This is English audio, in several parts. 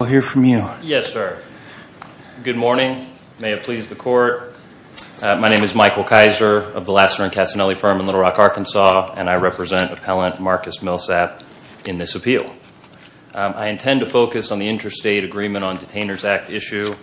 I intend to focus on the Interstate Agreement on Detainers Act issue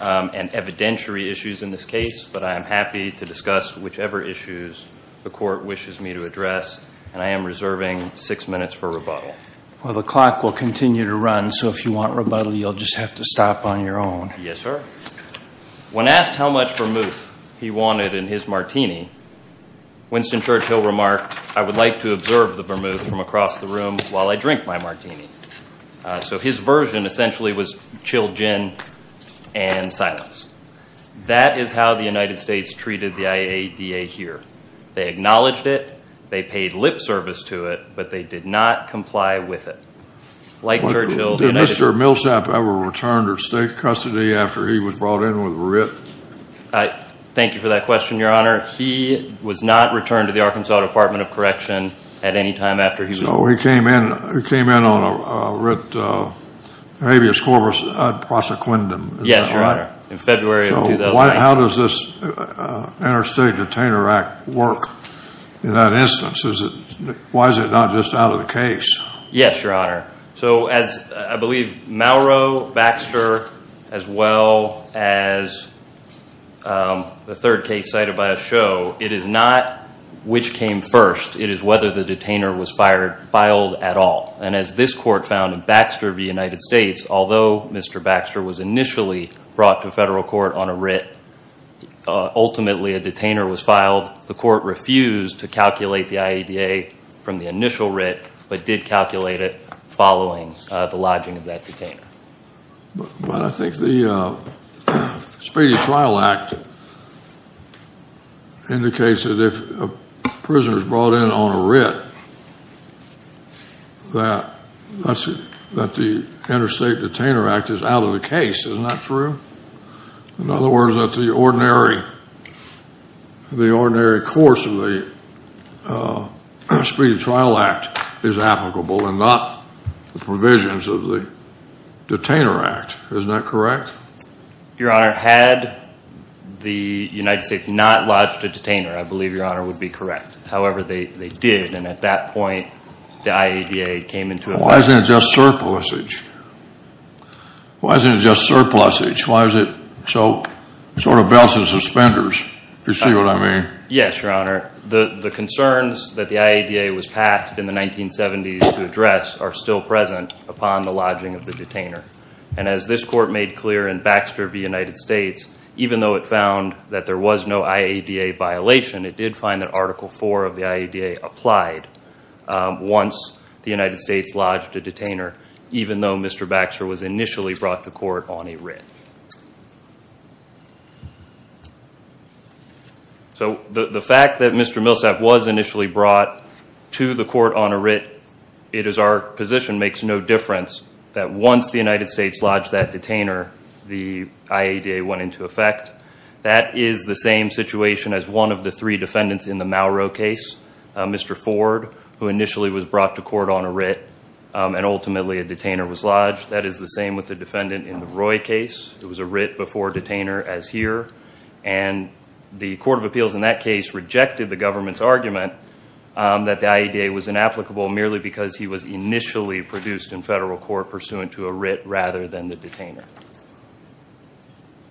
and evidentiary issues in this case, but I am happy to discuss whichever issues the Court wishes me to address, and I am reserving six minutes for rebuttal. Well, the clock will continue to run, so if you want rebuttal, you'll just have to stop on your own. Yes, sir. When asked how much vermouth he wanted in his martini, Winston Churchill remarked, I would like to observe the vermouth from across the room while I drink my martini. So his version essentially was chilled gin and silence. That is how the United States treated the IADA here. They acknowledged it, they paid lip service to it, but they did not comply with it. Did Mr. Millsap ever return to state custody after he was brought in with writ? Thank you for that question, Your Honor. He was not returned to the Arkansas Department of Correction at any time after he was brought in. So he came in on a writ habeas corpus ad prosequendum. Yes, Your Honor, in February of 2009. How does this Interstate Detainer Act work in that instance? Why is it not just out of the case? Yes, Your Honor. So as I believe Mauro, Baxter, as well as the third case cited by a show, it is not which came first, it is whether the detainer was filed at all. And as this court found in Baxter v. United States, although Mr. Baxter was initially brought to federal court on a writ, ultimately a detainer was filed. The court refused to calculate the IADA from the initial writ, but did calculate it following the lodging of that detainer. But I think the Spady Trial Act indicates that if a prisoner is brought in on a writ, that the Interstate Detainer Act is out of the case. Isn't that true? In other words, that the ordinary course of the Spady Trial Act is applicable and not the provisions of the Detainer Act. Isn't that correct? Your Honor, had the United States not lodged a detainer, I believe Your Honor would be correct. However, they did, and at that point the IADA came into effect. Why isn't it just surplusage? Why isn't it just surplusage? Why is it sort of belts and suspenders, if you see what I mean? Yes, Your Honor. The concerns that the IADA was passed in the 1970s to address are still present upon the lodging of the detainer. And as this court made clear in Baxter v. United States, even though it found that there was no IADA violation, it did find that Article IV of the IADA applied once the United States lodged a detainer, even though Mr. Baxter was initially brought to court on a writ. So the fact that Mr. Millsap was initially brought to the court on a writ, it is our position, makes no difference that once the United States lodged that detainer, the IADA went into effect. That is the same situation as one of the three defendants in the Mauro case, Mr. Ford, who initially was brought to court on a writ, and ultimately a detainer was lodged. That is the same with the defendant in the Roy case. It was a writ before detainer, as here. And the Court of Appeals in that case rejected the government's argument that the IADA was inapplicable merely because he was initially produced in federal court pursuant to a writ rather than the detainer.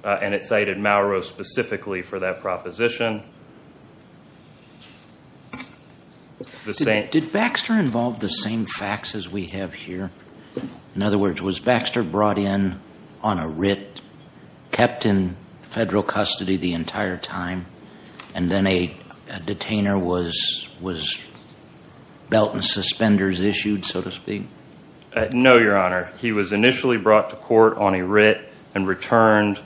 And it cited Mauro specifically for that proposition. Did Baxter involve the same facts as we have here? In other words, was Baxter brought in on a writ, kept in federal custody the entire time, and then a detainer was belt and suspenders issued, so to speak? No, Your Honor. He was initially brought to court on a writ and returned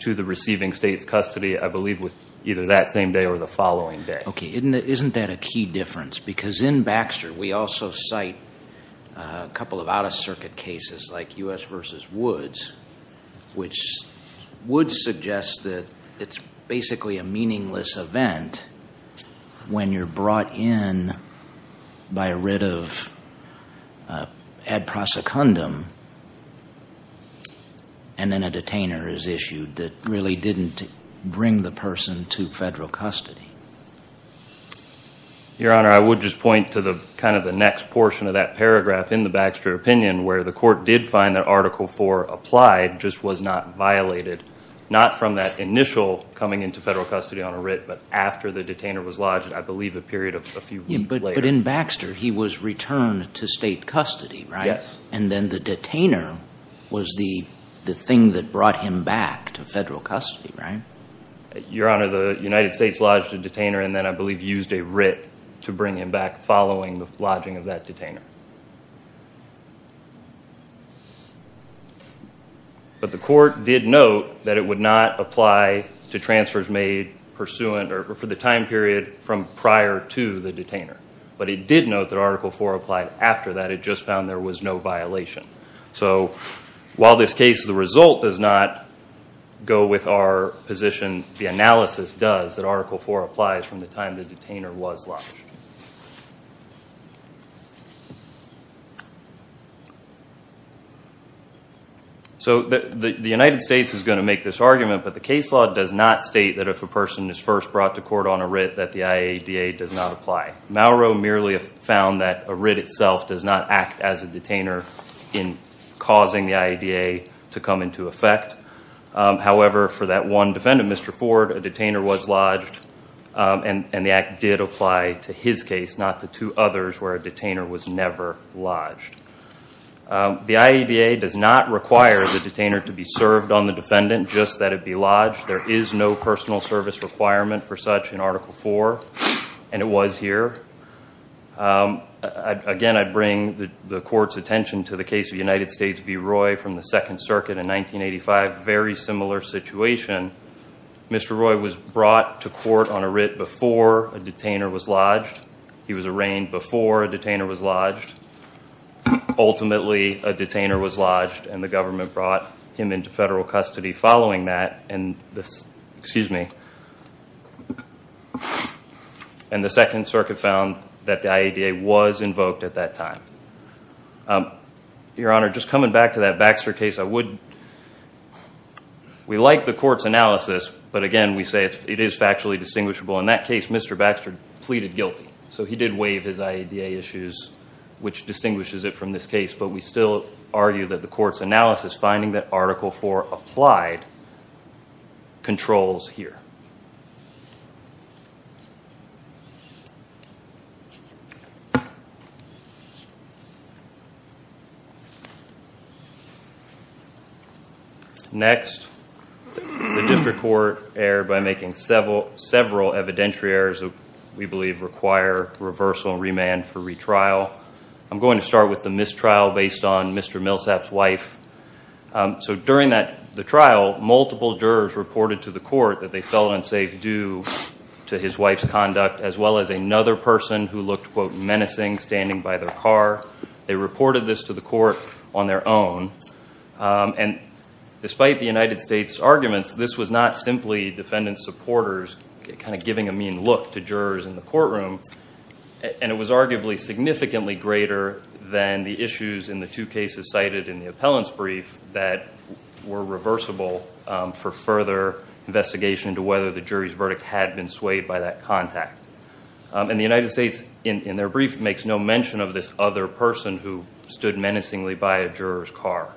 to the receiving state's custody, I believe, either that same day or the following day. Okay. Isn't that a key difference? Because in Baxter, we also cite a couple of out-of-circuit cases like U.S. v. Woods, which would suggest that it's basically a meaningless event when you're brought in by a writ of ad prosecundum and then a detainer is issued that really didn't bring the person to federal custody. Your Honor, I would just point to kind of the next portion of that paragraph in the Baxter opinion where the court did find that Article IV applied, just was not violated, not from that initial coming into federal custody on a writ, but after the detainer was lodged, I believe a period of a few weeks later. But in Baxter, he was returned to state custody, right? Yes. And then the detainer was the thing that brought him back to federal custody, right? Your Honor, the United States lodged a detainer and then, I believe, used a writ to bring him back following the lodging of that detainer. But the court did note that it would not apply to transfers made pursuant or for the time period from prior to the detainer. But it did note that Article IV applied after that. It just found there was no violation. So while this case, the result does not go with our position, the analysis does that Article IV applies from the time the detainer was lodged. So the United States is going to make this argument, but the case law does not state that if a person is first brought to court on a writ, that the IADA does not apply. Mauro merely found that a writ itself does not act as a detainer in causing the IADA to come into effect. However, for that one defendant, Mr. Ford, a detainer was lodged and the act did apply to his case, not to two others where a detainer was never lodged. The IADA does not require the detainer to be served on the defendant, just that it be lodged. There is no personal service requirement for such in Article IV, and it was here. Again, I bring the court's attention to the case of United States v. Roy from the Second Circuit in 1985, very similar situation. Mr. Roy was brought to court on a writ before a detainer was lodged. He was arraigned before a detainer was lodged. Ultimately, a detainer was lodged and the government brought him into federal custody following that, and the Second Circuit found that the IADA was invoked at that time. Your Honor, just coming back to that Baxter case, we like the court's analysis, but again, we say it is factually distinguishable. In that case, Mr. Baxter pleaded guilty, so he did waive his IADA issues, which distinguishes it from this case, but we still argue that the court's analysis, finding that Article IV applied, controls here. Next, the district court erred by making several evidentiary errors that we believe require reversal and remand for retrial. I'm going to start with the mistrial based on Mr. Millsap's wife. So during the trial, multiple jurors reported to the court that they fell in safe due to his wife's conduct, as well as another person who looked quote menacing standing by their car. They reported this to the court on their own, and despite the United States' arguments, this was not simply defendant's supporters kind of giving a mean look to jurors in the courtroom, and it was arguably significantly greater than the issues in the two cases cited in the appellant's brief that were reversible for further investigation into whether the jury's verdict had been swayed by that contact. And the United States, in their brief, makes no mention of this other person who stood menacingly by a juror's car.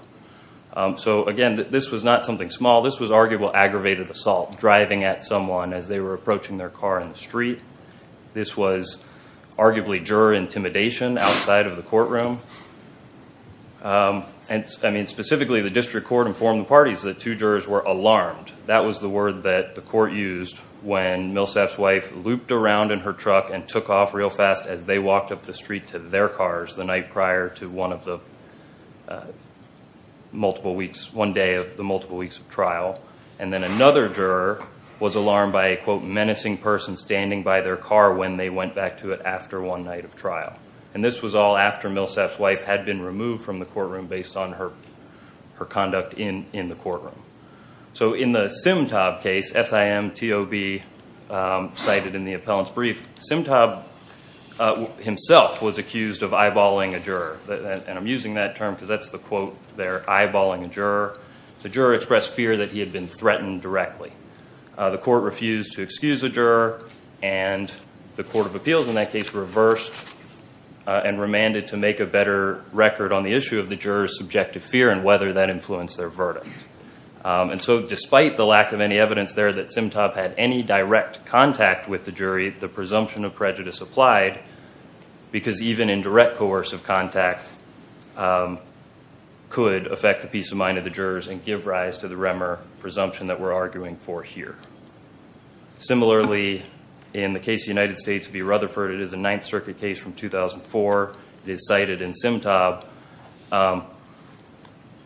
So again, this was not something small. This was arguably aggravated assault, driving at someone as they were approaching their car in the street. This was arguably juror intimidation outside of the courtroom. And I mean, specifically, the district court informed the parties that two jurors were alarmed. That was the word that the court used when Millsap's wife looped around in her truck and took off real fast as they walked up the street to their cars the night prior to one of the multiple weeks, one day of the multiple weeks of trial. And then another juror was alarmed by a quote menacing person standing by their car when they went back to it after one night of trial. And this was all after Millsap's wife had been removed from the courtroom based on her conduct in the courtroom. So in the Simtob case, S-I-M-T-O-B cited in the appellant's brief, Simtob himself was accused of eyeballing a juror. And I'm using that term because that's the quote there, eyeballing a juror. The juror expressed fear that he had been threatened directly. The court refused to excuse the juror, and the court of appeals in that case reversed and remanded to make a better record on the issue of the juror's subjective fear and whether that influenced their verdict. And so despite the lack of any evidence there that Simtob had any direct contact with the jury, the presumption of prejudice applied because even in direct coercive contact could affect the peace of mind of the jurors and give rise to the remor presumption that we're arguing for here. Similarly, in the case of the United States v. Rutherford, it is a Ninth Circuit case from 2004. It is cited in Simtob.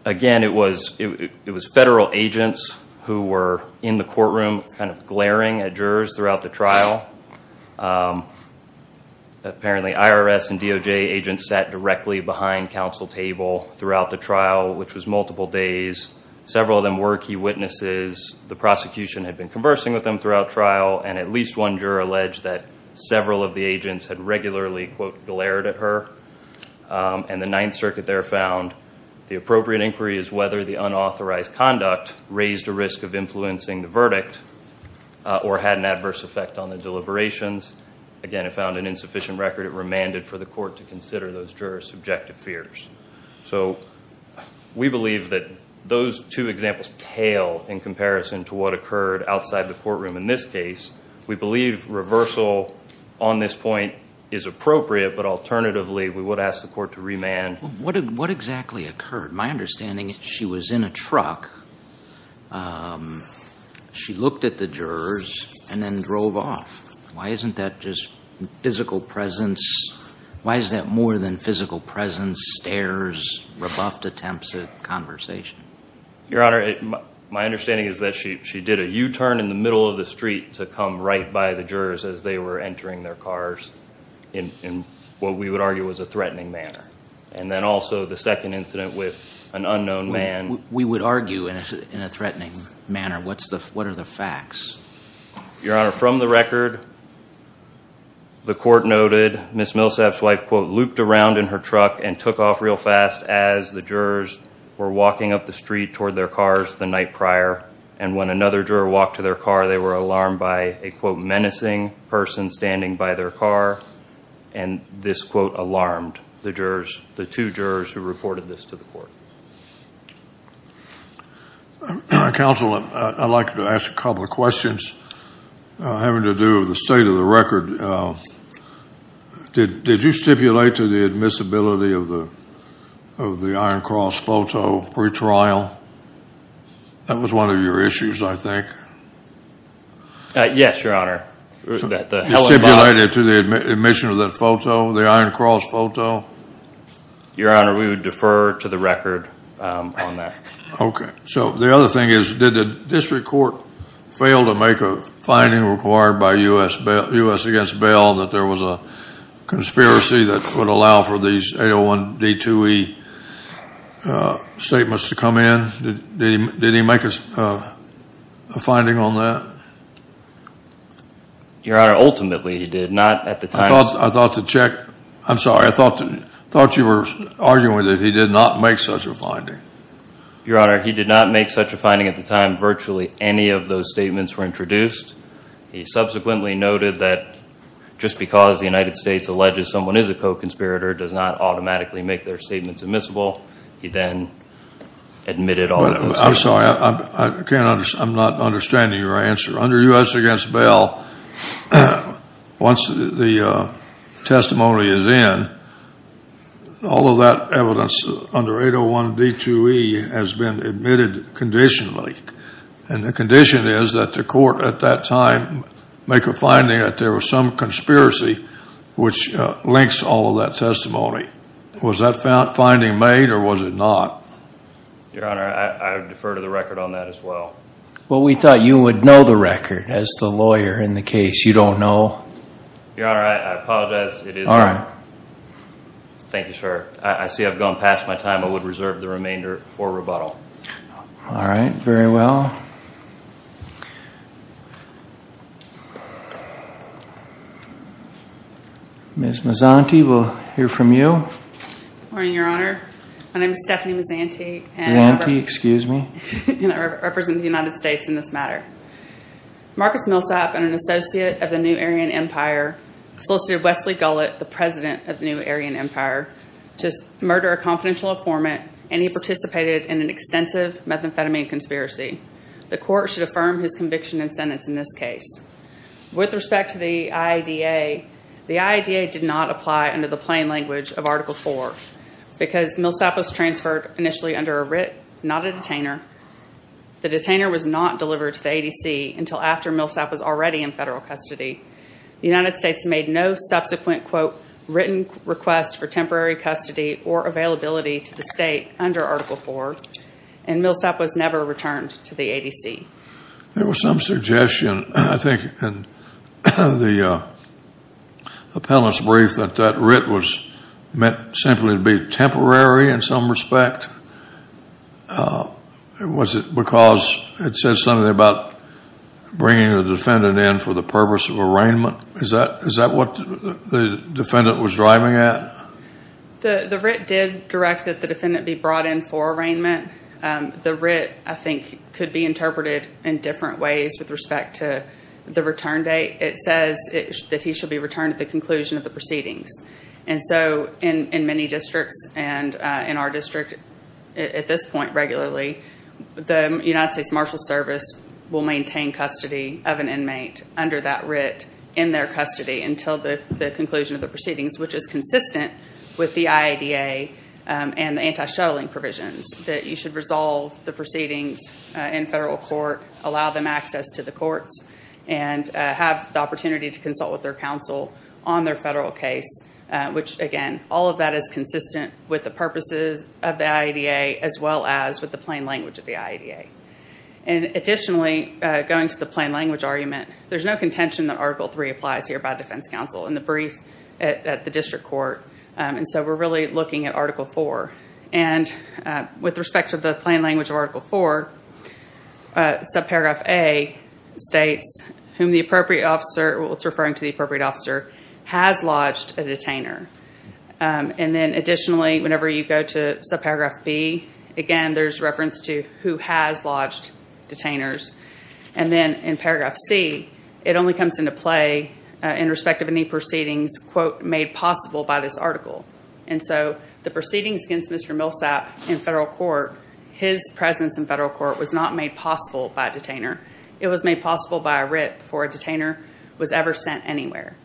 Again, it was federal agents who were in the courtroom kind of glaring at jurors throughout the trial. Apparently IRS and DOJ agents sat directly behind counsel table throughout the trial, which was multiple days. Several of them were key witnesses. The prosecution had been conversing with them throughout trial, and at least one juror alleged that several of the agents had regularly, quote, glared at her. And the Ninth Circuit there found the appropriate inquiry is whether the unauthorized conduct raised a risk of influencing the verdict or had an adverse effect on the deliberations. Again, it found an insufficient record. It remanded for the court to consider those jurors' subjective fears. So we believe that those two examples pale in comparison to what occurred outside the courtroom in this case. We believe reversal on this point is appropriate, but alternatively we would ask the court to remand. What exactly occurred? My understanding is she was in a truck. She looked at the jurors and then drove off. Why isn't that just physical presence? Why is that more than physical presence, stares, rebuffed attempts at conversation? Your Honor, my understanding is that she did a U-turn in the middle of the street to come right by the jurors as they were entering their cars in what we would argue was a threatening manner. And then also the second incident with an unknown man. We would argue in a threatening manner. What are the facts? Your Honor, from the record, the court noted Ms. Millsap's wife, quote, looped around in her truck and took off real fast as the jurors were walking up the street toward their cars the night prior. And when another juror walked to their car, they were alarmed by a, quote, menacing person standing by their car. And this, quote, alarmed the jurors, the two jurors who reported this to the court. Counsel, I'd like to ask a couple of questions having to do with the state of the record. Did you stipulate to the admissibility of the Iron Cross photo pretrial? That was one of your issues, I think. Yes, Your Honor. That the Helen Bond. Stipulated to the admission of that photo, the Iron Cross photo? Your Honor, we would defer to the record on that. Okay. So the other thing is, did the district court fail to make a finding required by U.S. against Bell that there was a conspiracy that would allow for these 801D2E statements to come in? Did he make a finding on that? Your Honor, ultimately he did. Not at the time. I thought the check, I'm sorry, I thought you were arguing that he did not make such a finding. Your Honor, he did not make such a finding at the time virtually any of those statements were introduced. He subsequently noted that just because the United States alleges someone is a co-conspirator, does not automatically make their statements admissible. He then admitted all of those. I'm sorry, I'm not understanding your answer. Under U.S. against Bell, once the testimony is in, all of that evidence under 801D2E has been admitted conditionally. And the condition is that the court at that time make a finding that there was some conspiracy which links all of that testimony. Was that finding made or was it not? Your Honor, I would defer to the record on that as well. Well, we thought you would know the record as the lawyer in the case. You don't know? Your Honor, I apologize. It is not. Thank you, sir. I see I've gone past my time. I would reserve the remainder for rebuttal. All right, very well. Ms. Mazzanti, we'll hear from you. Good morning, Your Honor. My name is Stephanie Mazzanti and I represent the United States in this matter. Marcus Millsap, an associate of the New Aryan Empire, solicited Wesley Gullet, the president of the New Aryan Empire, to murder a confidential informant and he participated in an extensive methamphetamine conspiracy. The court should affirm his conviction and sentence in this case. With respect to the IADA, the IADA did not apply under the plain language of Article 4 because Millsap was transferred initially under a writ, not a detainer. The detainer was not delivered to the ADC until after Millsap was already in federal custody. The United States made no subsequent, quote, written request for temporary custody or availability to the state under Article 4 and Millsap was never returned to the ADC. There was some suggestion, I think, in the appellate's brief that that writ was meant simply to be temporary in some respect. Was it because it says something about bringing the defendant in for the purpose of arraignment? Is that what the defendant was driving at? The writ did direct that the defendant be brought in for arraignment. The writ, I think, could be interpreted in different ways with respect to the return date. It says that he should be returned at the conclusion of the proceedings. And so in many districts and in our district at this point regularly, the United States Marshal Service will maintain custody of an inmate under that writ in their custody until the conclusion of the proceedings, which is consistent with the IADA and the anti-shuttling provisions. That you should resolve the proceedings in federal court, allow them access to the courts, and have the opportunity to consult with their counsel on their federal case, which again, all of that is consistent with the purposes of the IADA, as well as with the plain language of the IADA. And additionally, going to the plain language argument, there's no contention that Article 3 applies here by defense counsel in the brief at the district court. And so we're really looking at Article 4. And with respect to the plain language of Article 4, subparagraph A states whom the appropriate officer, it's referring to the appropriate officer, has lodged a detainer. And then additionally, whenever you go to subparagraph B, again, there's reference to who has lodged detainers. And then in paragraph C, it only comes into play in respect of any proceedings, quote, made possible by this article. And so the proceedings against Mr. Millsap in federal court, his presence in federal court was not made possible by a detainer. It was made possible by a writ before a detainer was ever sent anywhere.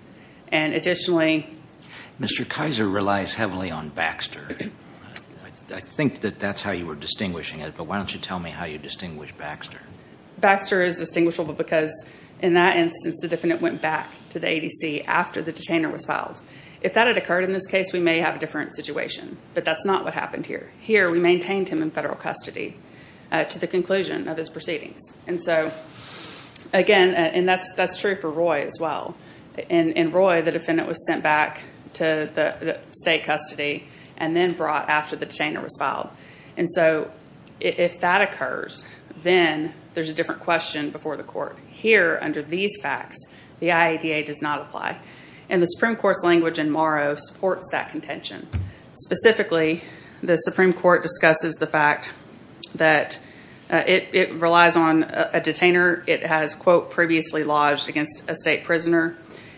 And additionally, Mr. Kaiser relies heavily on Baxter. I think that that's how you were distinguishing it, but why don't you tell me how you distinguish Baxter? Baxter is distinguishable because in that instance, the defendant went back to the ADC after the detainer was filed. If that had occurred in this case, we may have a different situation. But that's not what happened here. Here, we maintained him in federal custody to the conclusion of his proceedings. And so, again, and that's true for Roy as well. In Roy, the defendant was sent back to the state custody and then brought after the detainer was filed. And so if that occurs, then there's a different question before the court. Here, under these facts, the IADA does not apply. And the Supreme Court's language in Morrow supports that contention. Specifically, the Supreme Court discusses the fact that it relies on a detainer. It has, quote, previously lodged against a state prisoner.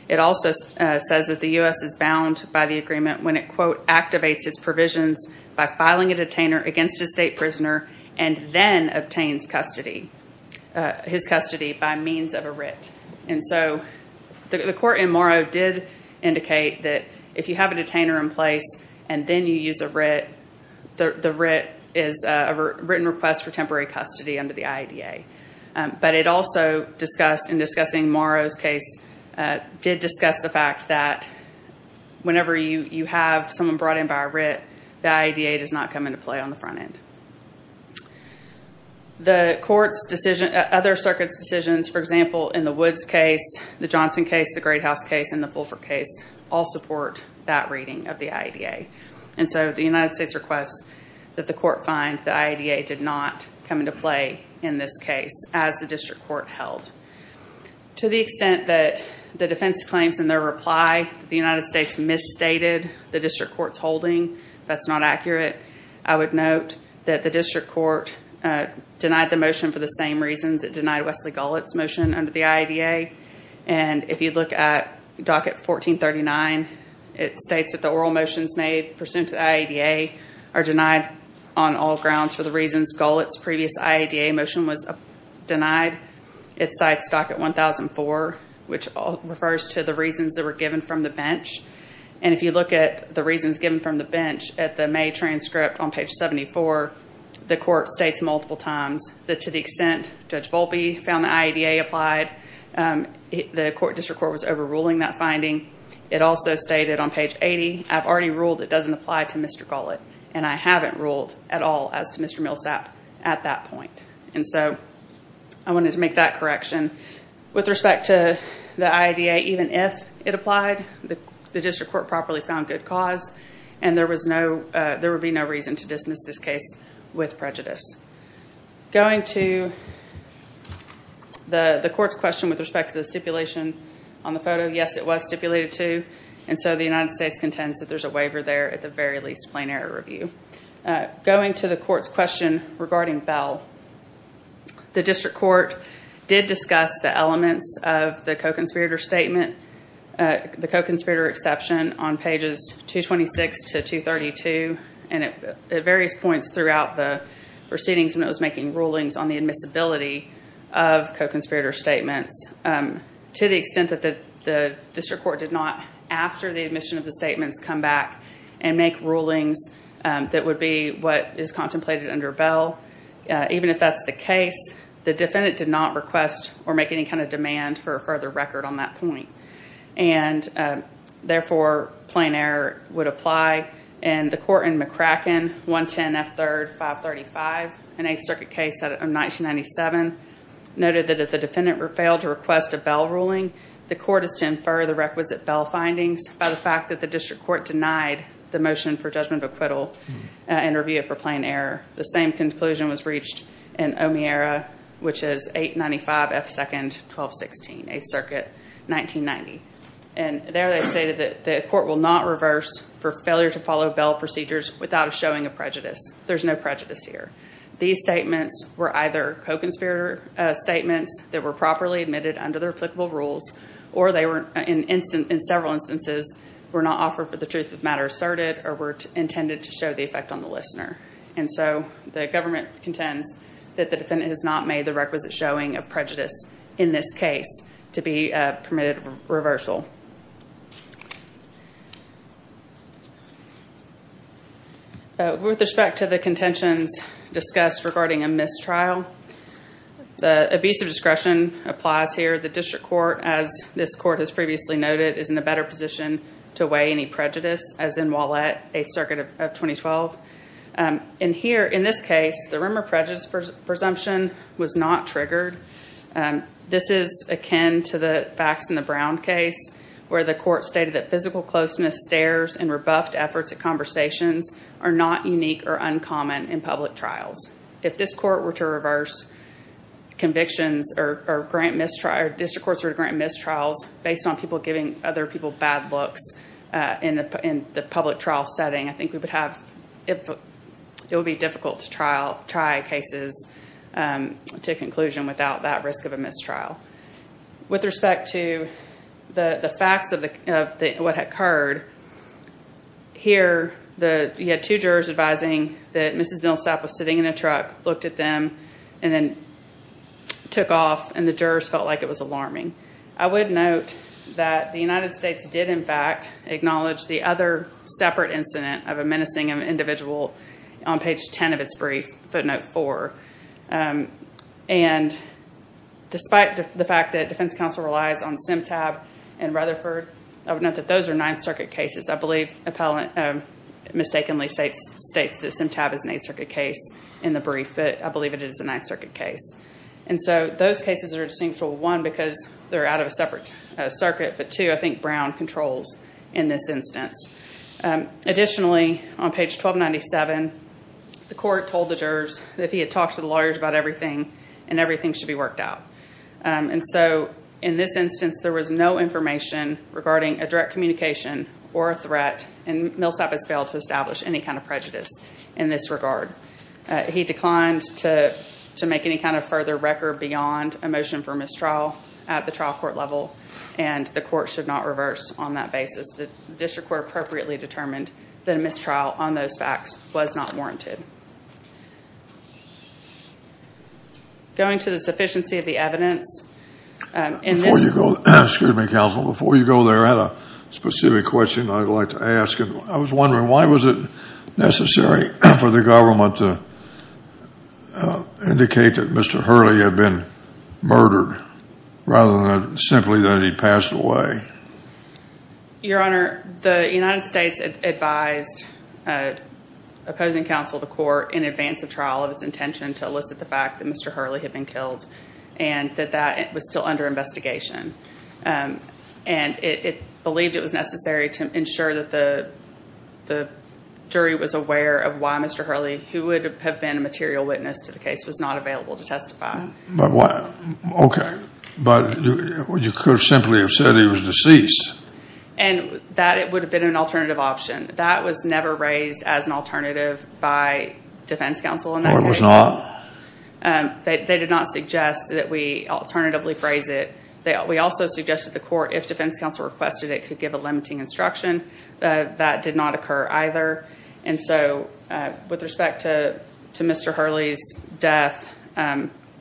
It also says that the U.S. is bound by the agreement when it, quote, provisions by filing a detainer against a state prisoner and then obtains custody, his custody by means of a writ. And so the court in Morrow did indicate that if you have a detainer in place and then you use a writ, the writ is a written request for temporary custody under the IADA. But it also discussed, in discussing Morrow's case, did discuss the fact that whenever you have someone brought in by a writ, the IADA does not come into play on the front end. The court's decision, other circuits' decisions, for example, in the Woods case, the Johnson case, the Great House case, and the Fulford case, all support that reading of the IADA. And so the United States requests that the court find the IADA did not come into play in this case as the district court held. To the extent that the defense claims in their reply that the United States misstated the district court's holding, that's not accurate. I would note that the district court denied the motion for the same reasons it denied Wesley Gullett's motion under the IADA. And if you look at docket 1439, it states that the oral motions made pursuant to the IADA are denied on all grounds for the reasons Gullett's previous IADA motion was denied. It cites docket 1004, which refers to the reasons that were given from the bench. And if you look at the reasons given from the bench at the May transcript on page 74, the court states multiple times that to the extent Judge Volpe found the IADA applied, the court district court was overruling that finding. It also stated on page 80, I've already ruled it doesn't apply to Mr. Gullett, and I haven't ruled at all as to Mr. Millsap at that point. And so I wanted to make that correction. With respect to the IADA, even if it applied, the district court properly found good cause, and there would be no reason to dismiss this case with prejudice. Going to the court's question with respect to the stipulation on the photo, yes, it was stipulated to, and so the United States contends that there's a waiver there, at the very least, plain error review. Going to the court's question regarding Bell, the district court did discuss the elements of the co-conspirator statement, the co-conspirator exception on pages 226 to 232, and at various points throughout the proceedings when it was making rulings on the admissibility of co-conspirator statements, to the extent that the district court did not, after the admission of the statements, come back and make rulings that would be what is contemplated under Bell. Even if that's the case, the defendant did not request or make any kind of demand for a further record on that point, and therefore, plain error would apply. And the court in McCracken, 110 F. 3rd 535, an Eighth Circuit case out of 1997, noted that if the defendant failed to request a Bell ruling, the court is to infer the requisite findings by the fact that the district court denied the motion for judgment of acquittal and review it for plain error. The same conclusion was reached in O'Meara, which is 895 F. 2nd 1216, Eighth Circuit, 1990. And there they stated that the court will not reverse for failure to follow Bell procedures without a showing of prejudice. There's no prejudice here. These statements were either co-conspirator statements that were properly admitted under applicable rules, or they were, in several instances, were not offered for the truth of matter asserted or were intended to show the effect on the listener. And so the government contends that the defendant has not made the requisite showing of prejudice in this case to be permitted reversal. With respect to the contentions discussed regarding a mistrial, the abuse of discretion applies here. The district court, as this court has previously noted, is in a better position to weigh any prejudice as in O'Meara, Eighth Circuit of 2012. And here, in this case, the rumor prejudice presumption was not triggered. This is akin to the facts in the Brown case, where the court stated that physical closeness, stares, and rebuffed efforts at conversations are not unique or uncommon in public trials. If this court were to reverse convictions or grant mistrial, or district courts were to grant mistrials based on people giving other people bad looks in the public trial setting, I think we would have, it would be difficult to trial, try cases to conclusion without that risk of a mistrial. With respect to the facts of what occurred, here, the, you had two jurors advising that truck, looked at them, and then took off, and the jurors felt like it was alarming. I would note that the United States did, in fact, acknowledge the other separate incident of a menacing individual on page 10 of its brief, footnote four. And despite the fact that defense counsel relies on SimTab and Rutherford, I would note that those are Ninth Circuit cases. I believe appellant mistakenly states that SimTab is an Eighth Circuit case in the brief, but I believe it is a Ninth Circuit case. And so, those cases are distinct from one because they're out of a separate circuit, but two, I think Brown controls in this instance. Additionally, on page 1297, the court told the jurors that he had talked to the lawyers about everything, and everything should be worked out. And so, in this instance, there was no information regarding a direct communication or a threat, and Millsap has failed to establish any kind of prejudice in this regard. He declined to make any kind of further record beyond a motion for mistrial at the trial court level, and the court should not reverse on that basis. The district court appropriately determined that a mistrial on those facts was not warranted. Going to the sufficiency of the evidence, in this- Excuse me, counsel. Before you go there, I had a specific question I'd like to ask. I was wondering, why was it necessary for the government to indicate that Mr. Hurley had been murdered, rather than simply that he passed away? Your Honor, the United States advised opposing counsel of the court in advance of trial of its intention to elicit the fact that Mr. Hurley had been killed, and that that was still under investigation. And it believed it was necessary to ensure that the jury was aware of why Mr. Hurley, who would have been a material witness to the case, was not available to testify. But why? Okay, but you could have simply have said he was deceased. And that would have been an alternative option. That was never raised as an alternative by defense counsel in that case. Or it was not? They did not suggest that we alternatively phrase it. We also suggested the court, if defense counsel requested it, could give a limiting instruction. That did not occur either. And so, with respect to Mr. Hurley's death,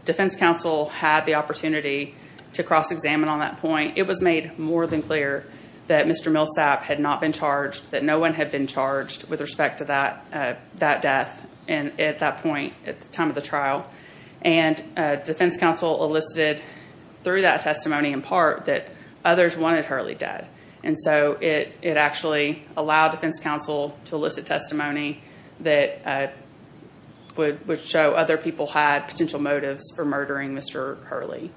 defense counsel had the opportunity to cross-examine on that point. It was made more than clear that Mr. Millsap had not been charged, that no one had been charged with respect to that death at that point, at the time of the trial. And defense counsel elicited, through that testimony in part, that others wanted Hurley dead. And so, it actually allowed defense counsel to elicit testimony that would show other people had potential motives for murdering Mr. Hurley.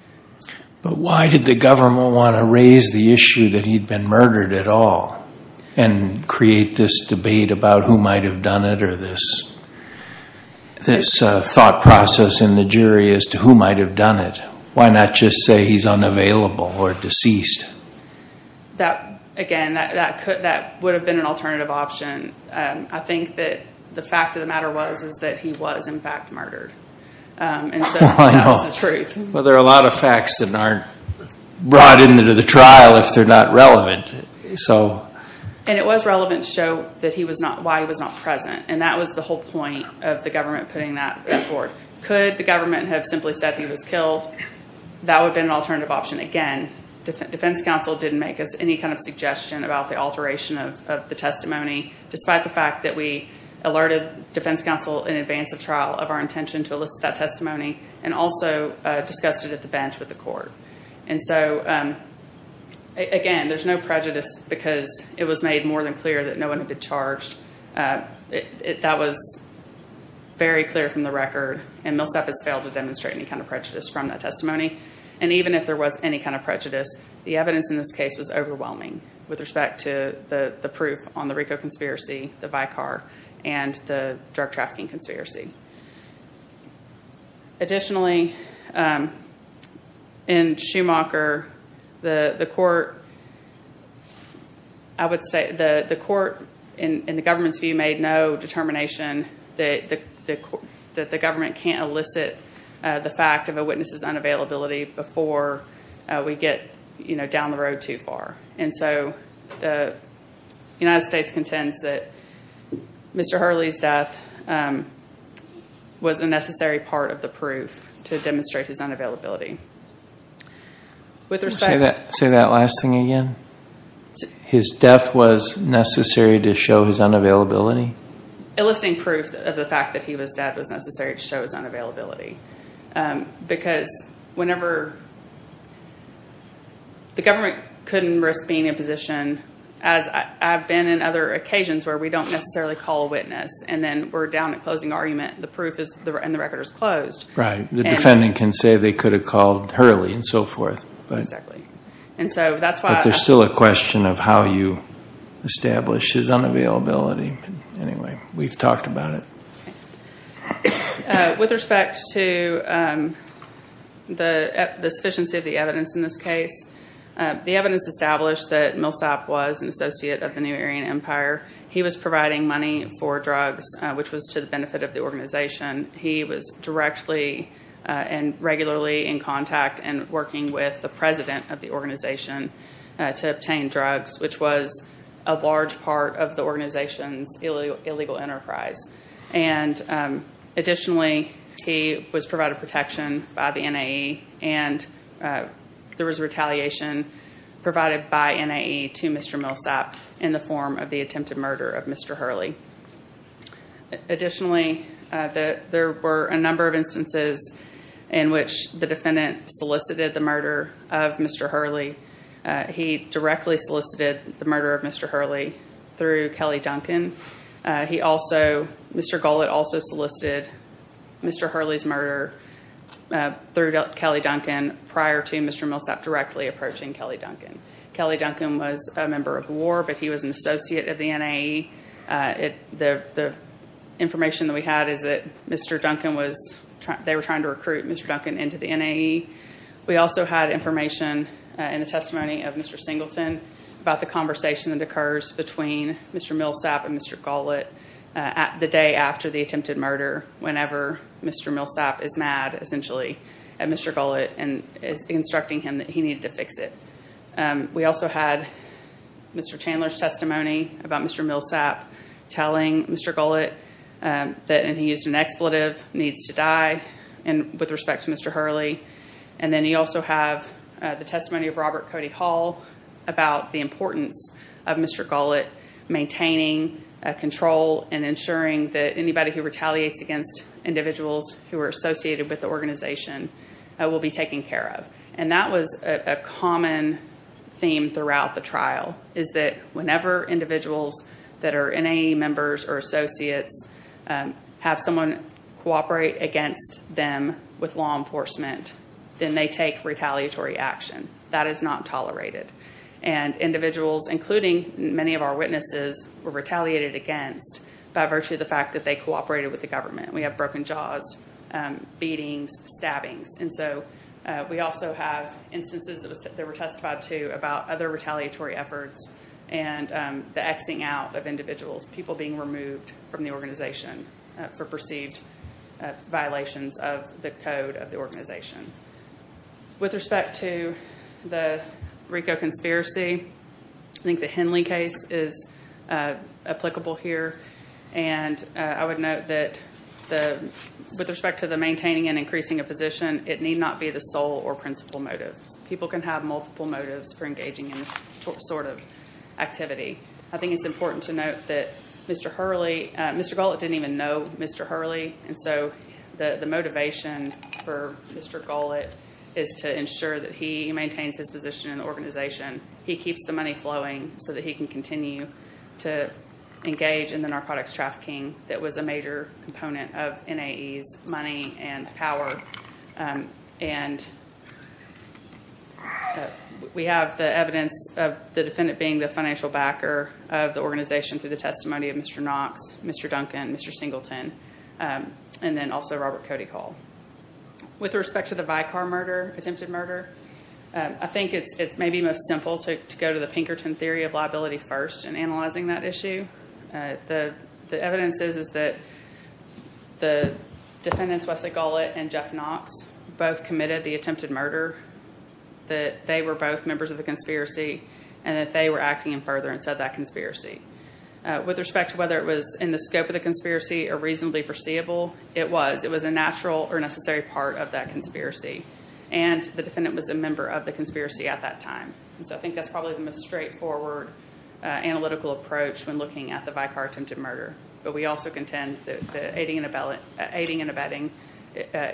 But why did the government want to raise the issue that he'd been murdered at all? And create this debate about who might have done it? Or this thought process in the jury as to who might have done it? Why not just say he's unavailable or deceased? Again, that would have been an alternative option. I think that the fact of the matter was that he was, in fact, murdered. And so, that was the truth. Well, there are a lot of facts that aren't brought into the trial if they're not relevant. And it was relevant to show why he was not present. And that was the whole point of the government putting that forward. Could the government have simply said he was killed? That would have been an alternative option. Again, defense counsel didn't make us any kind of suggestion about the alteration of the testimony, despite the fact that we alerted defense counsel in advance of trial of our intention to elicit that testimony. And also, discussed it at the bench with the court. And so, again, there's no prejudice because it was made more than clear that no one had been charged. That was very clear from the record. And Millsap has failed to demonstrate any kind of prejudice from that testimony. And even if there was any kind of prejudice, the evidence in this case was overwhelming with respect to the proof on the Rico conspiracy, the Vicar, and the drug trafficking conspiracy. Additionally, in Schumacher, the court, I would say, the court in the government's view made no determination that the government can't elicit the fact of a witness's unavailability before we get down the road too far. And so, the United States contends that Mr. Hurley's death could have been an alteration was a necessary part of the proof to demonstrate his unavailability. With respect- Say that last thing again. His death was necessary to show his unavailability? Eliciting proof of the fact that he was dead was necessary to show his unavailability. Because whenever the government couldn't risk being in a position, as I've been in other And then we're down to closing argument. The proof is, and the record is closed. Right. The defendant can say they could have called Hurley and so forth. Exactly. And so, that's why- But there's still a question of how you establish his unavailability. Anyway, we've talked about it. With respect to the sufficiency of the evidence in this case, the evidence established that Millsap was an associate of the New Aryan Empire. He was providing money for drugs, which was to the benefit of the organization. He was directly and regularly in contact and working with the president of the organization to obtain drugs, which was a large part of the organization's illegal enterprise. And additionally, he was provided protection by the NAE. And there was retaliation provided by NAE to Mr. Millsap in the form of the attempted murder of Mr. Hurley. Additionally, there were a number of instances in which the defendant solicited the murder of Mr. Hurley. He directly solicited the murder of Mr. Hurley through Kelly Duncan. He also, Mr. Gullett also solicited Mr. Hurley's murder through Kelly Duncan prior to Mr. Millsap directly approaching Kelly Duncan. Kelly Duncan was a member of the war, but he was an associate of the NAE. The information that we had is that they were trying to recruit Mr. Duncan into the NAE. We also had information in the testimony of Mr. Singleton about the conversation that occurs between Mr. Millsap and Mr. Gullett the day after the attempted murder whenever Mr. Millsap is mad, essentially, at Mr. Gullett and is instructing him that he needed to fix it. We also had Mr. Chandler's testimony about Mr. Millsap telling Mr. Gullett that he used an expletive, needs to die, with respect to Mr. Hurley. And then you also have the testimony of Robert Cody Hall about the importance of Mr. Gullett maintaining control and ensuring that anybody who retaliates against individuals who are associated with the organization will be taken care of. And that was a common theme throughout the trial, is that whenever individuals that are NAE members or associates have someone cooperate against them with law enforcement, then they take retaliatory action. That is not tolerated. And individuals, including many of our witnesses, were retaliated against by virtue of the fact that they cooperated with the government. We have broken jaws, beatings, stabbings. And so we also have instances that were testified to about other retaliatory efforts and the X-ing out of individuals, people being removed from the organization for perceived violations of the code of the organization. With respect to the RICO conspiracy, I think the Henley case is applicable here. And I would note that with respect to the maintaining and increasing a position, it need not be the sole or principal motive. People can have multiple motives for engaging in this sort of activity. I think it's important to note that Mr. Gullett didn't even know Mr. Hurley. And so the motivation for Mr. Gullett is to ensure that he maintains his position in the organization. He keeps the money flowing so that he can continue to engage in the narcotics trafficking that was a major component of NAE's money and power. And we have the evidence of the defendant being the financial backer of the organization through the testimony of Mr. Knox, Mr. Duncan, Mr. Singleton, and then also Robert Cody Hall. With respect to the Vicar murder, attempted murder, I think it's maybe most simple to go to the Pinkerton theory of liability first and analyzing that issue. The evidence is that the defendants, Wesley Gullett and Jeff Knox, both committed the attempted murder, that they were both members of the conspiracy, and that they were acting in furtherance of that conspiracy. With respect to whether it was in the scope of the conspiracy or reasonably foreseeable, it was. It was a natural or necessary part of that conspiracy. And the defendant was a member of the conspiracy at that time. And so I think that's probably the most straightforward analytical approach when looking at the Vicar attempted murder. But we also contend that the aiding and abetting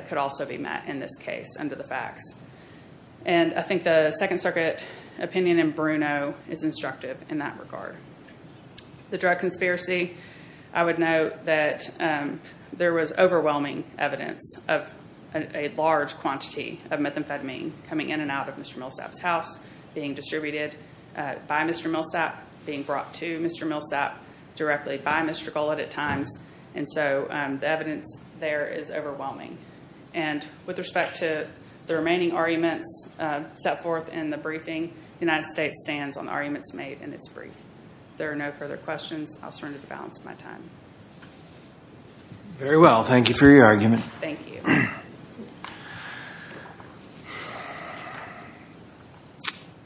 could also be met in this case under the facts. And I think the Second Circuit opinion in Bruno is instructive in that regard. The drug conspiracy, I would note that there was overwhelming evidence of a large quantity of methamphetamine coming in and out of Mr. Millsap's house, being distributed by Mr. Millsap, being brought to Mr. Millsap directly by Mr. Gullett at times. And so the evidence there is overwhelming. And with respect to the remaining arguments set forth in the briefing, the United States stands on the arguments made in its brief. There are no further questions. I'll surrender the balance of my time. Very well. Thank you for your argument. Thank you.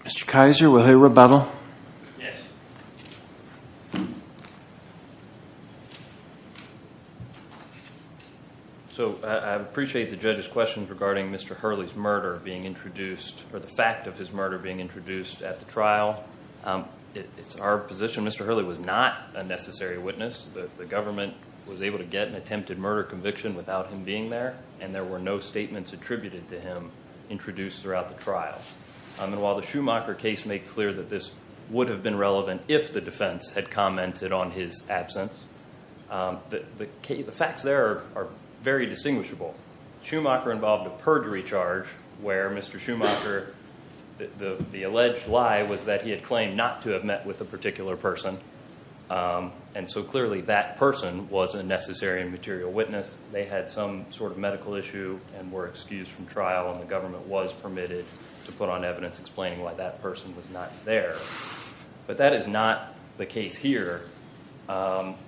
Mr. Kaiser, will he rebuttal? Yes. So I appreciate the judge's questions regarding Mr. Hurley's murder being introduced, or the fact of his murder being introduced at the trial. It's our position Mr. Hurley was not a necessary witness. The government was able to get an attempted murder conviction without him being there, and there were no statements attributed to him introduced throughout the trial. And while the Schumacher case made clear that this would have been relevant if the defense had commented on his absence, the facts there are very distinguishable. Schumacher involved a perjury charge where Mr. Schumacher, the alleged lie was that he had claimed not to have met with a particular person. And so clearly that person was a necessary and material witness. They had some sort of medical issue and were excused from trial, and the government was permitted to put on evidence explaining why that person was not there. But that is not the case here,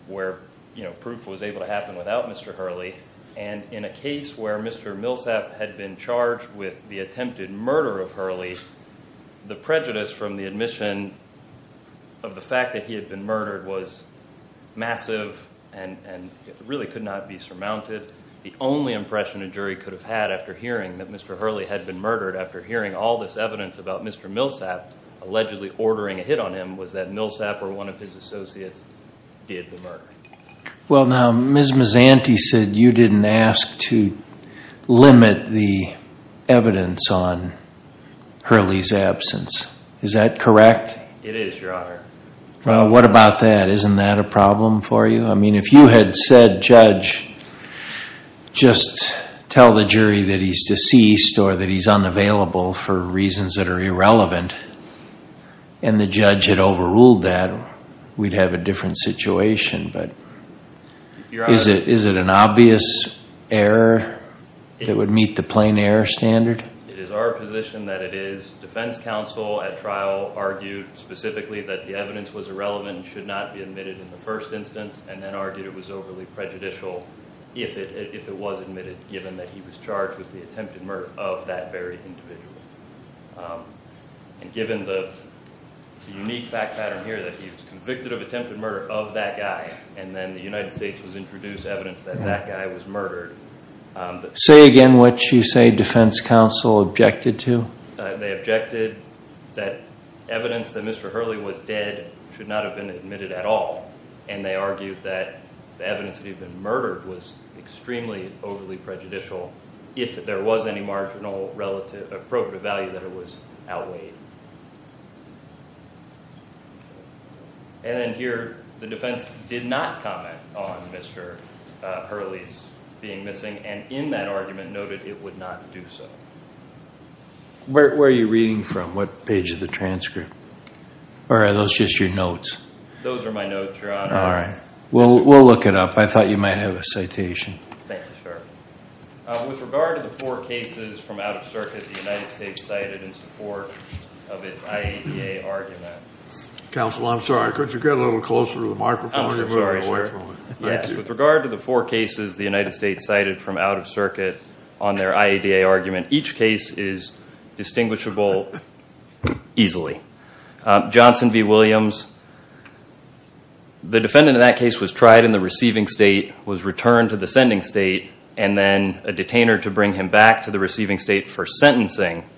where proof was able to happen without Mr. Hurley. And in a case where Mr. Millsap had been charged with the attempted murder of Hurley, the prejudice from the admission of the fact that he had been murdered was massive and really could not be surmounted. The only impression a jury could have had after hearing that Mr. Hurley had been murdered, after hearing all this evidence about Mr. Millsap allegedly ordering a hit on him, was that Millsap or one of his associates did the murder. Well, now, Ms. Mazzanti said you didn't ask to limit the evidence on Hurley's absence. Is that correct? It is, Your Honor. Well, what about that? Isn't that a problem for you? I mean, if you had said, Judge, just tell the jury that he's deceased or that he's unavailable for reasons that are irrelevant, and the judge had overruled that, we'd have a different situation. But is it an obvious error that would meet the plain error standard? It is our position that it is. Defense counsel at trial argued specifically that the evidence was irrelevant, should not be admitted in the first instance, and then argued it was overly prejudicial if it was admitted, given that he was charged with the attempted murder of that very individual. And given the unique fact pattern here, that he was convicted of attempted murder of that guy, and then the United States was introduced evidence that that guy was murdered. Say again what you say defense counsel objected to? They objected that evidence that Mr. Hurley was dead should not have been admitted at all. And they argued that the evidence that he'd been murdered was extremely overly prejudicial if there was any marginal relative appropriate value that it was outweighed. And then here, the defense did not comment on Mr. Hurley's being missing, and in that argument noted it would not do so. Where are you reading from? What page of the transcript? Or are those just your notes? Those are my notes, Your Honor. All right. We'll look it up. I thought you might have a citation. Thank you, sir. With regard to the four cases from out of circuit, the United States cited in support of its IAEA argument. Counsel, I'm sorry. Could you get a little closer to the microphone? I'm so sorry, sir. Yes. With regard to the four cases the United States cited from out of circuit on their IAEA argument, each case is distinguishable easily. Johnson v. Williams, the defendant in that case was tried in the receiving state, was returned to the sending state, and then a detainer to bring him back to the receiving state for sentencing.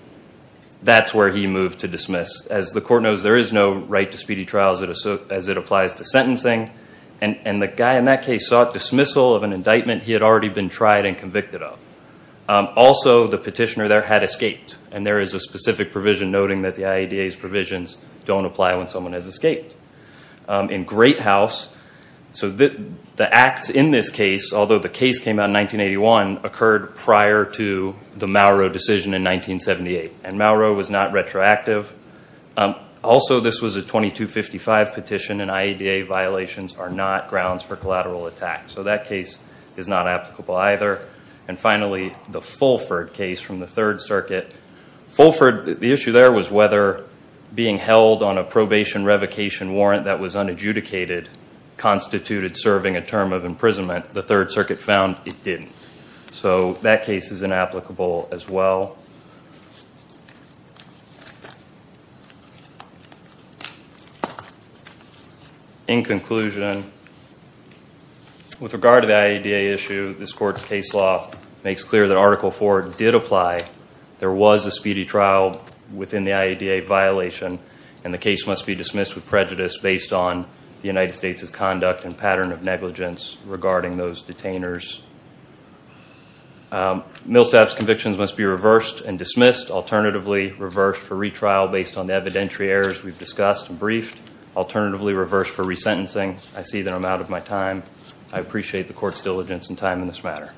That's where he moved to dismiss. As the court knows, there is no right to speedy trials as it applies to sentencing. And the guy in that case sought dismissal of an indictment he had already been tried and convicted of. Also, the petitioner there had escaped. And there is a specific provision noting that the IAEA's provisions don't apply when someone has escaped. In Great House, the acts in this case, although the case came out in 1981, occurred prior to the Mauro decision in 1978. And Mauro was not retroactive. Also, this was a 2255 petition. And IAEA violations are not grounds for collateral attack. So that case is not applicable either. And finally, the Fulford case from the Third Circuit. Fulford, the issue there was whether being held on a probation revocation warrant that was unadjudicated constituted serving a term of imprisonment. The Third Circuit found it didn't. So that case is inapplicable as well. In conclusion, with regard to the IAEA issue, this court's case law makes clear that Article IV did apply. There was a speedy trial within the IAEA violation. And the case must be dismissed with prejudice based on the United States' conduct and pattern of negligence regarding those detainers. Millsap's convictions must be reversed and dismissed. Alternatively, reversed for retrial based on the evidentiary errors we've discussed and briefed. Alternatively, reversed for resentencing. I see that I'm out of my time. I appreciate the court's diligence and time in this matter.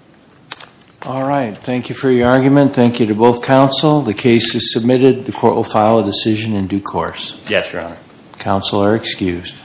All right. Thank you for your argument. Thank you to both counsel. The case is submitted. The court will file a decision in due course. Yes, Your Honor. Counsel are excused.